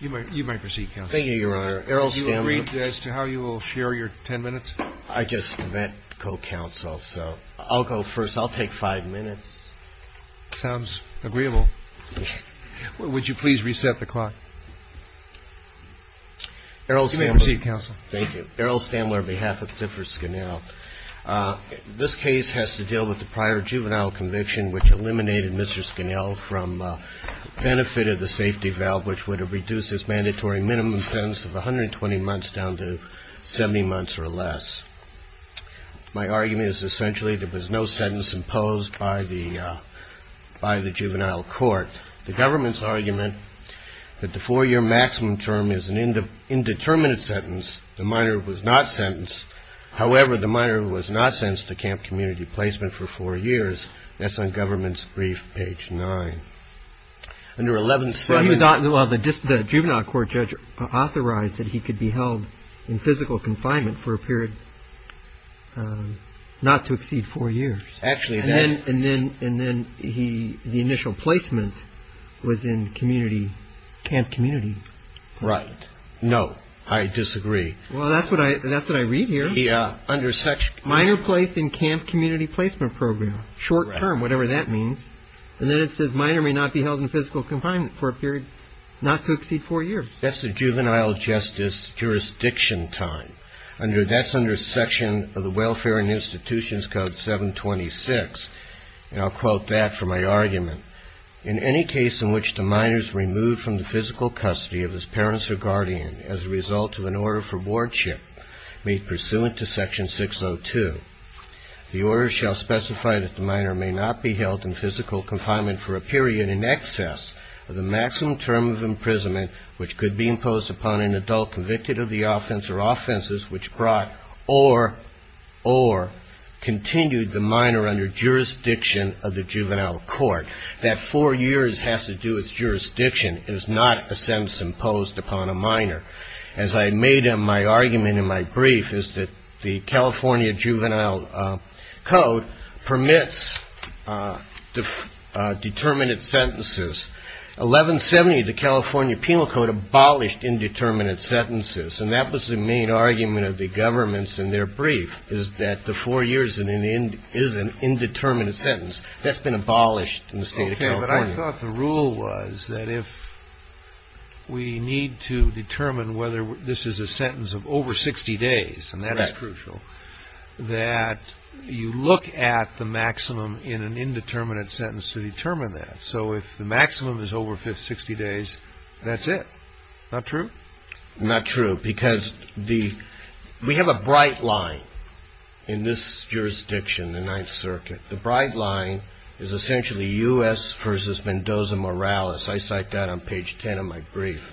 You may proceed, counsel. Thank you, your honor. Are you agreed as to how you will share your ten minutes? I just met co-counsel, so I'll go first. I'll take five minutes. Sounds agreeable. Would you please reset the clock? You may proceed, counsel. Thank you. Errol Stamler on behalf of Thiffer Skannal. This case has to deal with the prior juvenile conviction which eliminated Mr. Skannal from benefit of the safety valve, which would have reduced his mandatory minimum sentence of 120 months down to 70 months or less. My argument is essentially there was no sentence imposed by the juvenile court. The government's argument that the four-year maximum term is an indeterminate sentence. The minor was not sentenced. However, the minor was not sentenced to camp community placement for four years. That's on government's brief, page 9. Under 117. Well, the juvenile court judge authorized that he could be held in physical confinement for a period not to exceed four years. And then the initial placement was in camp community. Right. No, I disagree. Well, that's what I read here. Minor placed in camp community placement program. Short term, whatever that means. And then it says minor may not be held in physical confinement for a period not to exceed four years. That's the juvenile justice jurisdiction time. That's under section of the Welfare and Institutions Code 726. And I'll quote that for my argument. In any case in which the minor is removed from the physical custody of his parents or guardian as a result of an order for boardship made pursuant to section 602, the order shall specify that the minor may not be held in physical confinement for a period in excess of the maximum term of imprisonment which could be imposed upon an adult convicted of the offense or offenses which brought or continued the minor under jurisdiction of the juvenile court. That four years has to do with jurisdiction is not a sentence imposed upon a minor. As I made in my argument in my brief is that the California Juvenile Code permits determinate sentences. 1170, the California Penal Code abolished indeterminate sentences. And that was the main argument of the governments in their brief is that the four years is an indeterminate sentence. That's been abolished in the state of California. Okay, but I thought the rule was that if we need to determine whether this is a sentence of over 60 days, and that is crucial, that you look at the maximum in an indeterminate sentence to determine that. So if the maximum is over 60 days, that's it. Not true? Not true because we have a bright line in this jurisdiction, the Ninth Circuit. The bright line is essentially U.S. versus Mendoza-Morales. I cite that on page 10 of my brief.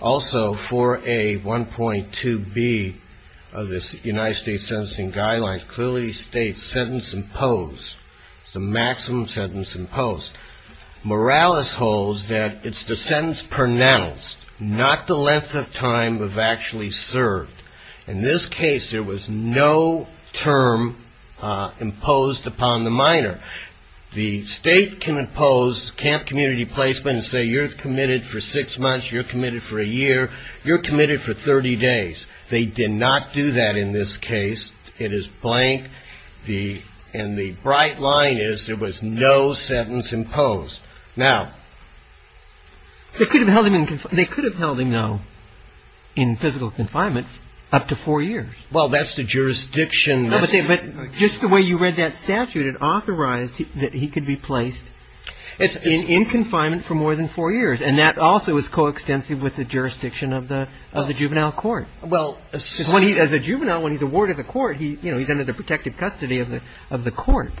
Also, 4A.1.2B of this United States Sentencing Guidelines clearly states sentence imposed, the maximum sentence imposed. Morales holds that it's the sentence pronounced, not the length of time of actually served. In this case, there was no term imposed upon the minor. The state can impose camp community placement and say you're committed for six months, you're committed for a year, you're committed for 30 days. They did not do that in this case. It is blank. And the bright line is there was no sentence imposed. Now, they could have held him in physical confinement up to four years. Well, that's the jurisdiction. But just the way you read that statute, it authorized that he could be placed in confinement for more than four years. And that also is coextensive with the jurisdiction of the juvenile court. Well, as a juvenile, when he's awarded the court, he's under the protective custody of the court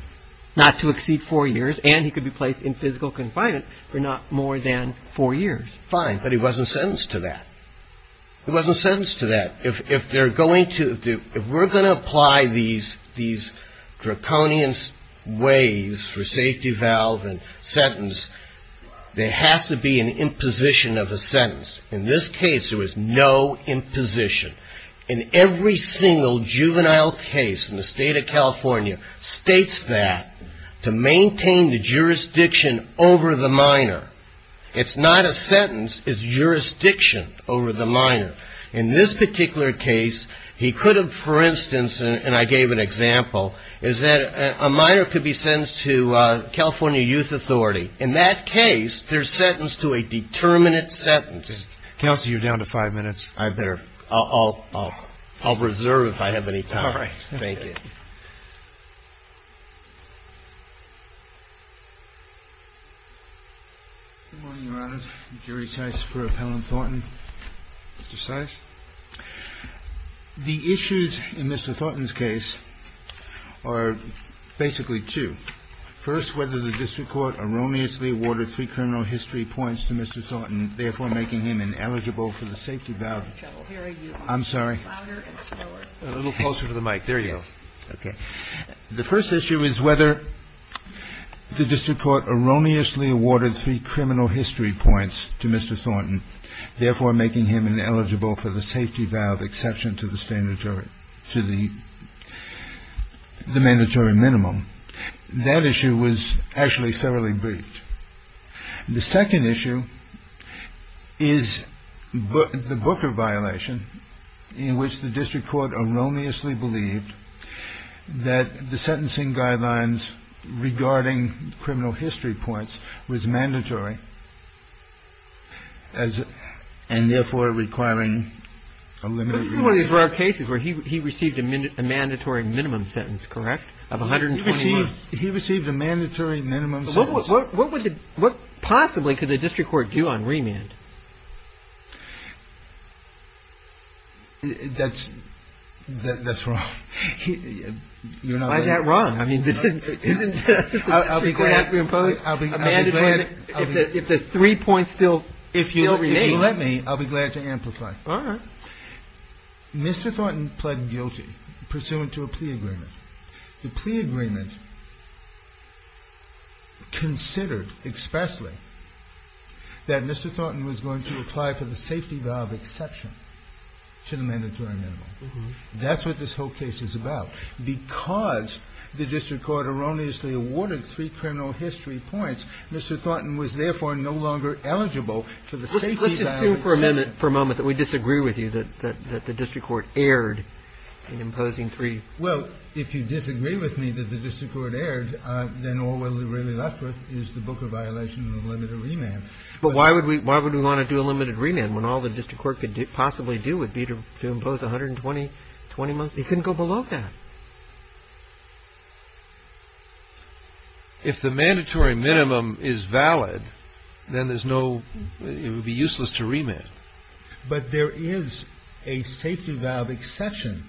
not to exceed four years, and he could be placed in physical confinement for not more than four years. Fine, but he wasn't sentenced to that. He wasn't sentenced to that. If they're going to do – if we're going to apply these draconian ways for safety valve and sentence, there has to be an imposition of a sentence. In this case, there was no imposition. In every single juvenile case in the state of California states that to maintain the jurisdiction over the minor. It's not a sentence. It's jurisdiction over the minor. In this particular case, he could have, for instance, and I gave an example, is that a minor could be sentenced to California Youth Authority. In that case, they're sentenced to a determinate sentence. Counsel, you're down to five minutes. I better – I'll reserve if I have any time. All right. Thank you. Good morning, Your Honors. Jerry Seis for Appellant Thornton. Mr. Seis. The issues in Mr. Thornton's case are basically two. First, whether the district court erroneously awarded three criminal history points to Mr. Thornton, therefore making him ineligible for the safety valve. I'm sorry. A little closer to the mic. There you go. Okay. The first issue is whether the district court erroneously awarded three criminal history points to Mr. Thornton, therefore making him ineligible for the safety valve exception to the mandatory minimum. That issue was actually thoroughly briefed. The second issue is the Booker violation in which the district court erroneously believed that the sentencing guidelines regarding criminal history points was mandatory and therefore requiring a limited release. This is one of these rare cases where he received a mandatory minimum sentence, correct, of 120 months. He received a mandatory minimum sentence. What possibly could the district court do on remand? That's wrong. Why is that wrong? I mean, isn't the district court supposed to impose a mandatory minimum if the three points still remain? If you'll let me, I'll be glad to amplify. All right. Mr. Thornton pled guilty pursuant to a plea agreement. The plea agreement considered expressly that Mr. Thornton was going to apply for the safety valve exception to the mandatory minimum. That's what this whole case is about. Because the district court erroneously awarded three criminal history points, Mr. Thornton was therefore no longer eligible for the safety valve exception. Let's assume for a moment that we disagree with you, that the district court erred in imposing three. Well, if you disagree with me that the district court erred, then all we're really left with is the book of violation of limited remand. But why would we why would we want to do a limited remand when all the district court could possibly do would be to impose 120, 20 months? He couldn't go below that. If the mandatory minimum is valid, then there's no it would be useless to remit. But there is a safety valve exception.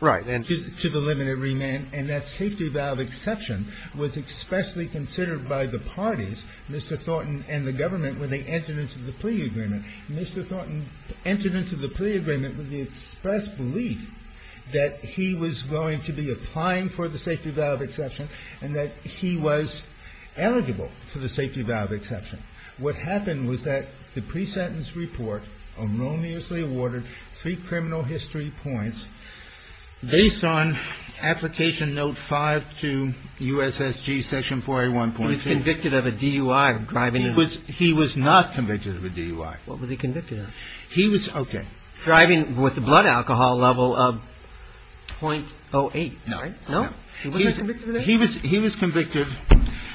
Right. And to the limited remand. And that safety valve exception was expressly considered by the parties, Mr. Thornton and the government, when they entered into the plea agreement. Mr. Thornton entered into the plea agreement with the express belief that he was going to be applying for the safety valve exception and that he was eligible for the safety valve exception. What happened was that the pre-sentence report erroneously awarded three criminal history points based on application note five to USSG section 4A1.2. He was convicted of a DUI of driving. He was not convicted of a DUI. What was he convicted of? He was. Driving with the blood alcohol level of .08. No. He was. He was convicted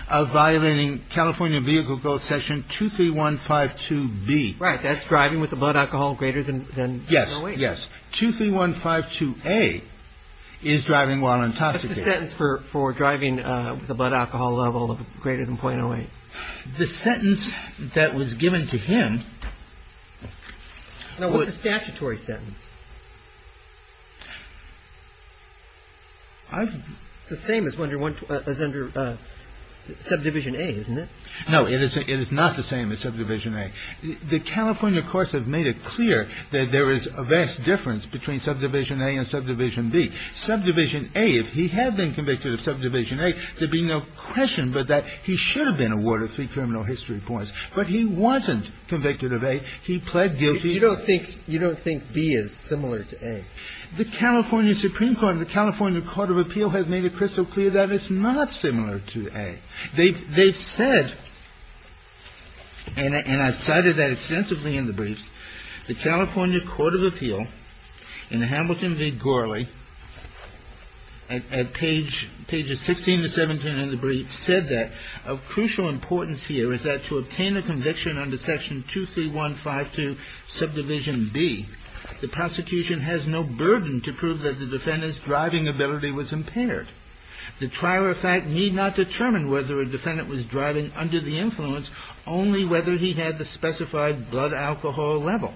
of violating California Vehicle Growth Section 23152B. Right. That's driving with the blood alcohol greater than. Yes. 23152A is driving while intoxicated. That's the sentence for driving with a blood alcohol level of greater than .08. The sentence that was given to him. It was a statutory sentence. It's the same as under subdivision A, isn't it? No. It is not the same as subdivision A. The California courts have made it clear that there is a vast difference between subdivision A and subdivision B. Subdivision A, if he had been convicted of subdivision A, there'd be no question but that he should have been awarded three criminal history points. But he wasn't convicted of A. He pled guilty. You don't think B is. Similar to A. The California Supreme Court and the California Court of Appeal have made it crystal clear that it's not similar to A. They've said, and I've cited that extensively in the briefs, the California Court of Appeal in the Hamilton v. Gourley at page, pages 16 to 17 in the brief said that of crucial importance here is that to obtain a conviction under section 23152 subdivision B, the prosecution has no burden to prove that the defendant's driving ability was impaired. The trial, in fact, need not determine whether a defendant was driving under the influence, only whether he had the specified blood alcohol level.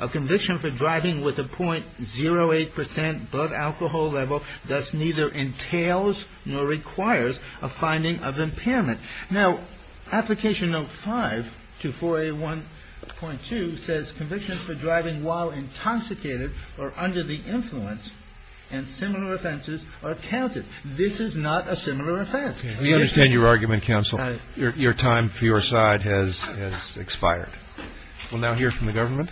A conviction for driving with a .08 percent blood alcohol level thus neither entails nor requires a finding of impairment. Now, application note 5 to 4A1.2 says conviction for driving while intoxicated or under the influence and similar offenses are counted. This is not a similar offense. We understand your argument, counsel. Your time for your side has expired. We'll now hear from the government.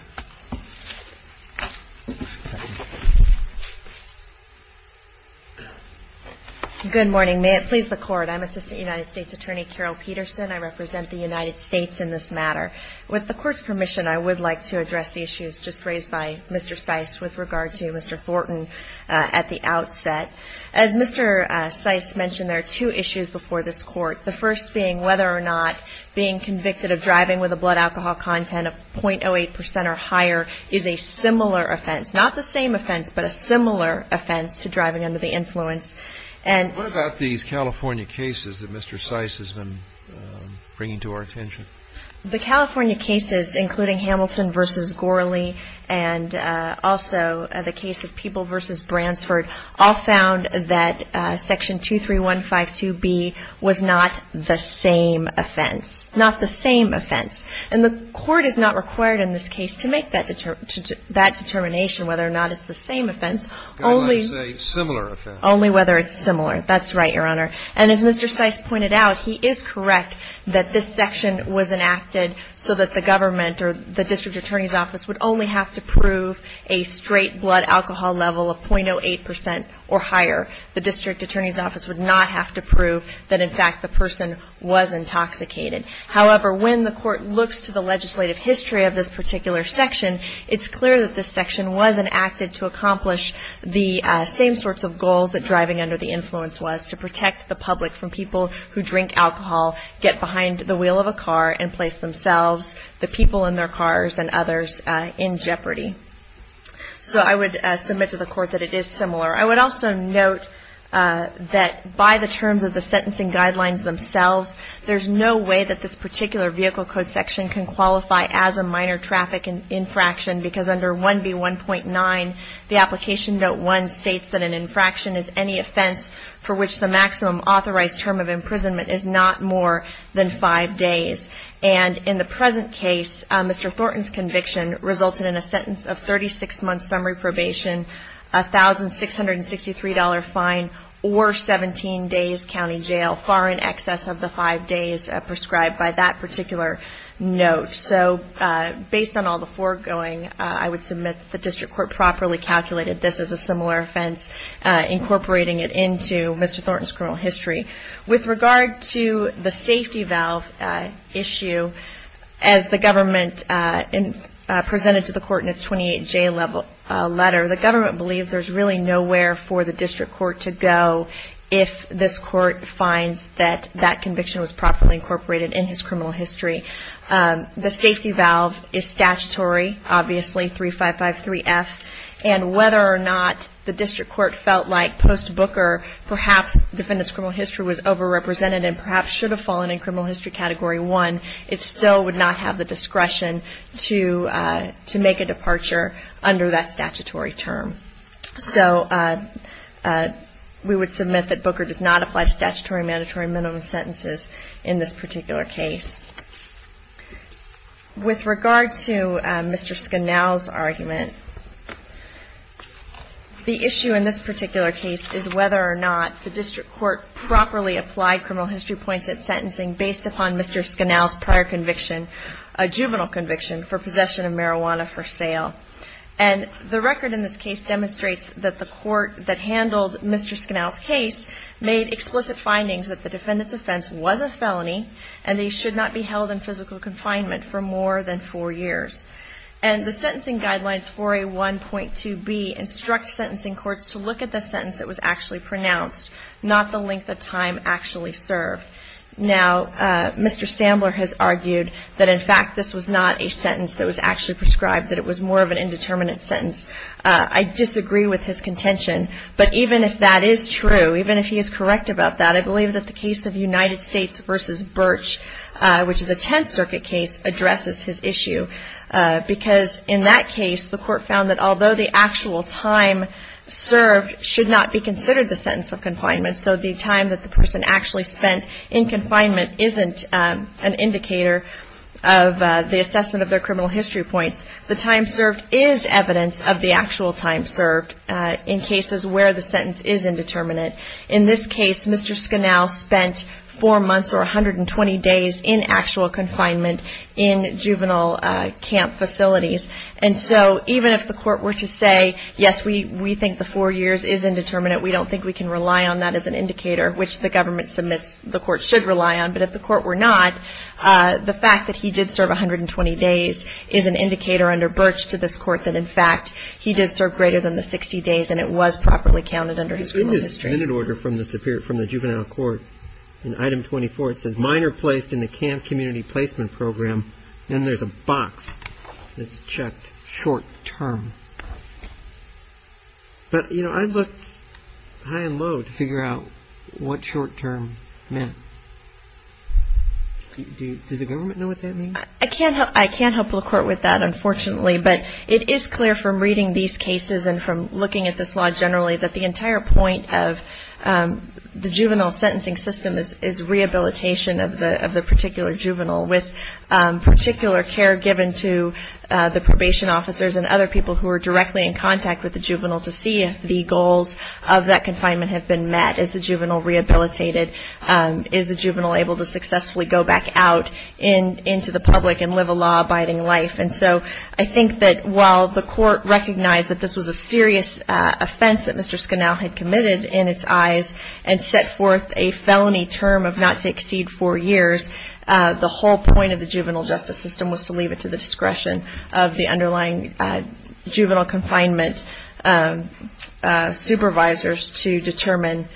Good morning. May it please the Court. I'm Assistant United States Attorney Carol Peterson. I represent the United States in this matter. With the Court's permission, I would like to address the issues just raised by Mr. Seiss with regard to Mr. Thornton at the outset. As Mr. Seiss mentioned, there are two issues before this Court, the first being whether or not being convicted of driving with a blood alcohol content of .08 percent or higher is a similar offense. Not the same offense, but a similar offense to driving under the influence. What about these California cases that Mr. Seiss has been bringing to our attention? The California cases, including Hamilton v. Gorley and also the case of People v. Bransford, all found that Section 23152B was not the same offense. Not the same offense. And the Court is not required in this case to make that determination whether or not it's the same offense. Only whether it's similar. Only whether it's similar. That's right, Your Honor. And as Mr. Seiss pointed out, he is correct that this section was enacted so that the government or the district attorney's office would only have to prove a straight blood alcohol level of .08 percent or higher. The district attorney's office would not have to prove that, in fact, the person was intoxicated. However, when the Court looks to the legislative history of this particular section, it's clear that this section was enacted to accomplish the same sorts of goals that driving under the influence was, to protect the public from people who drink alcohol, get behind the wheel of a car, and place themselves, the people in their cars, and others in jeopardy. So I would submit to the Court that it is similar. I would also note that by the terms of the sentencing guidelines themselves, there's no way that this particular vehicle code section can qualify as a minor traffic infraction because under 1B1.9, the Application Note 1 states that an infraction is any offense for which the maximum authorized term of imprisonment is not more than five days. And in the present case, Mr. Thornton's conviction resulted in a sentence of 36 months summary probation, a $1,663 fine, or 17 days county jail, far in excess of the five days prescribed by that particular note. So based on all the foregoing, I would submit that the District Court properly calculated this as a similar offense, incorporating it into Mr. Thornton's criminal history. With regard to the safety valve issue, as the government presented to the Court in its 28J letter, the government believes there's really nowhere for the District Court to go if this Court finds that that conviction was properly incorporated in his criminal history. The safety valve is statutory, obviously, 3553F, and whether or not the District Court felt like post-Booker, perhaps the defendant's criminal history was overrepresented and perhaps should have fallen in Criminal History Category 1, it still would not have the discretion to make a departure under that statutory term. So we would submit that Booker does not apply to statutory mandatory minimum sentences in this particular case. With regard to Mr. Scanal's argument, the issue in this particular case is whether or not the District Court properly applied criminal history points at sentencing based upon Mr. Scanal's prior conviction, a juvenile conviction for possession of marijuana for sale. And the record in this case demonstrates that the Court that handled Mr. Scanal's case made explicit findings that the defendant's offense was a felony and they should not be held in physical confinement for more than four years. And the sentencing guidelines for A1.2b instruct sentencing courts to look at the sentence that was actually pronounced, not the length of time actually served. Now, Mr. Stambler has argued that, in fact, this was not a sentence that was actually prescribed, that it was more of an indeterminate sentence. I disagree with his contention. But even if that is true, even if he is correct about that, I believe that the case of United States v. Birch, which is a Tenth Circuit case, addresses his issue because, in that case, the Court found that although the actual time served should not be considered the sentence of confinement, so the time that the person actually spent in confinement isn't an indicator of the assessment of their criminal history points, the time served is evidence of the actual time served in cases where the sentence is indeterminate. In this case, Mr. Scanal spent four months, or 120 days, in actual confinement in juvenile camp facilities. And so even if the Court were to say, yes, we think the four years is indeterminate, we don't think we can rely on that as an indicator, which the government submits the Court should rely on, but if the Court were not, the fact that he did serve 120 days is an indicator under Birch to this Court that, in fact, he did serve greater than the 60 days and it was properly counted under his criminal history. In this minute order from the juvenile court, in item 24, it says, mine are placed in the camp community placement program, and there's a box that's checked short-term. But, you know, I looked high and low to figure out what short-term meant. Does the government know what that means? I can't help the Court with that, unfortunately, but it is clear from reading these cases and from looking at this law generally that the entire point of the juvenile sentencing system is rehabilitation of the particular juvenile with particular care given to the probation officers and other people who are directly in contact with the juvenile to see if the goals of that confinement have been met. Is the juvenile rehabilitated? Is the juvenile able to successfully go back out into the public and live a law-abiding life? And so I think that while the Court recognized that this was a serious offense that Mr. Scanal had committed in its eyes and set forth a felony term of not to exceed four years, the whole point of the juvenile justice system was to leave it to the discretion of the underlying juvenile confinement supervisors to determine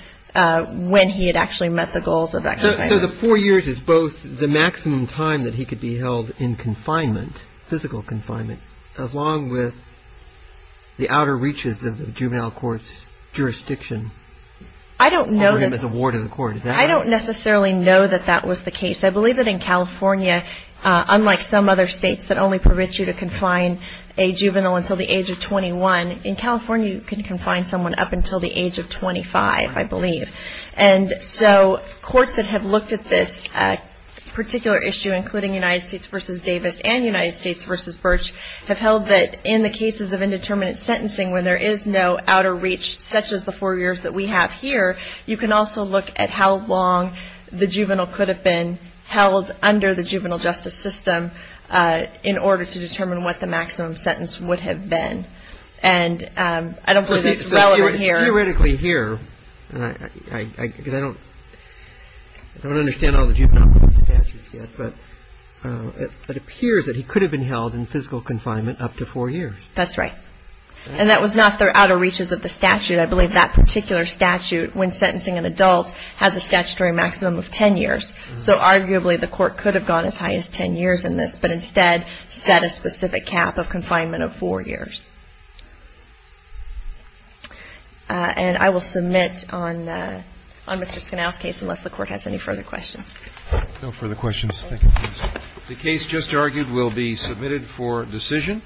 when he had actually met the goals of that confinement. So the four years is both the maximum time that he could be held in confinement, physical confinement, along with the outer reaches of the juvenile court's jurisdiction over him as a ward in the court. I don't necessarily know that that was the case. I believe that in California, unlike some other states that only permit you to confine a juvenile until the age of 21, in California you can confine someone up until the age of 25, I believe. And so courts that have looked at this particular issue, including United States v. Davis and United States v. Birch, have held that in the cases of indeterminate sentencing where there is no outer reach such as the four years that we have here, you can also look at how long the juvenile could have been held under the juvenile justice system in order to determine what the maximum sentence would have been. And I don't believe it's relevant here. Theoretically here, because I don't understand all the juvenile court statutes yet, but it appears that he could have been held in physical confinement up to four years. That's right. And that was not the outer reaches of the statute. I believe that particular statute, when sentencing an adult, has a statutory maximum of 10 years. So arguably the court could have gone as high as 10 years in this, but instead set a specific cap of confinement of four years. And I will submit on Mr. Scanal's case unless the court has any further questions. No further questions. Thank you. The case just argued will be submitted for decision.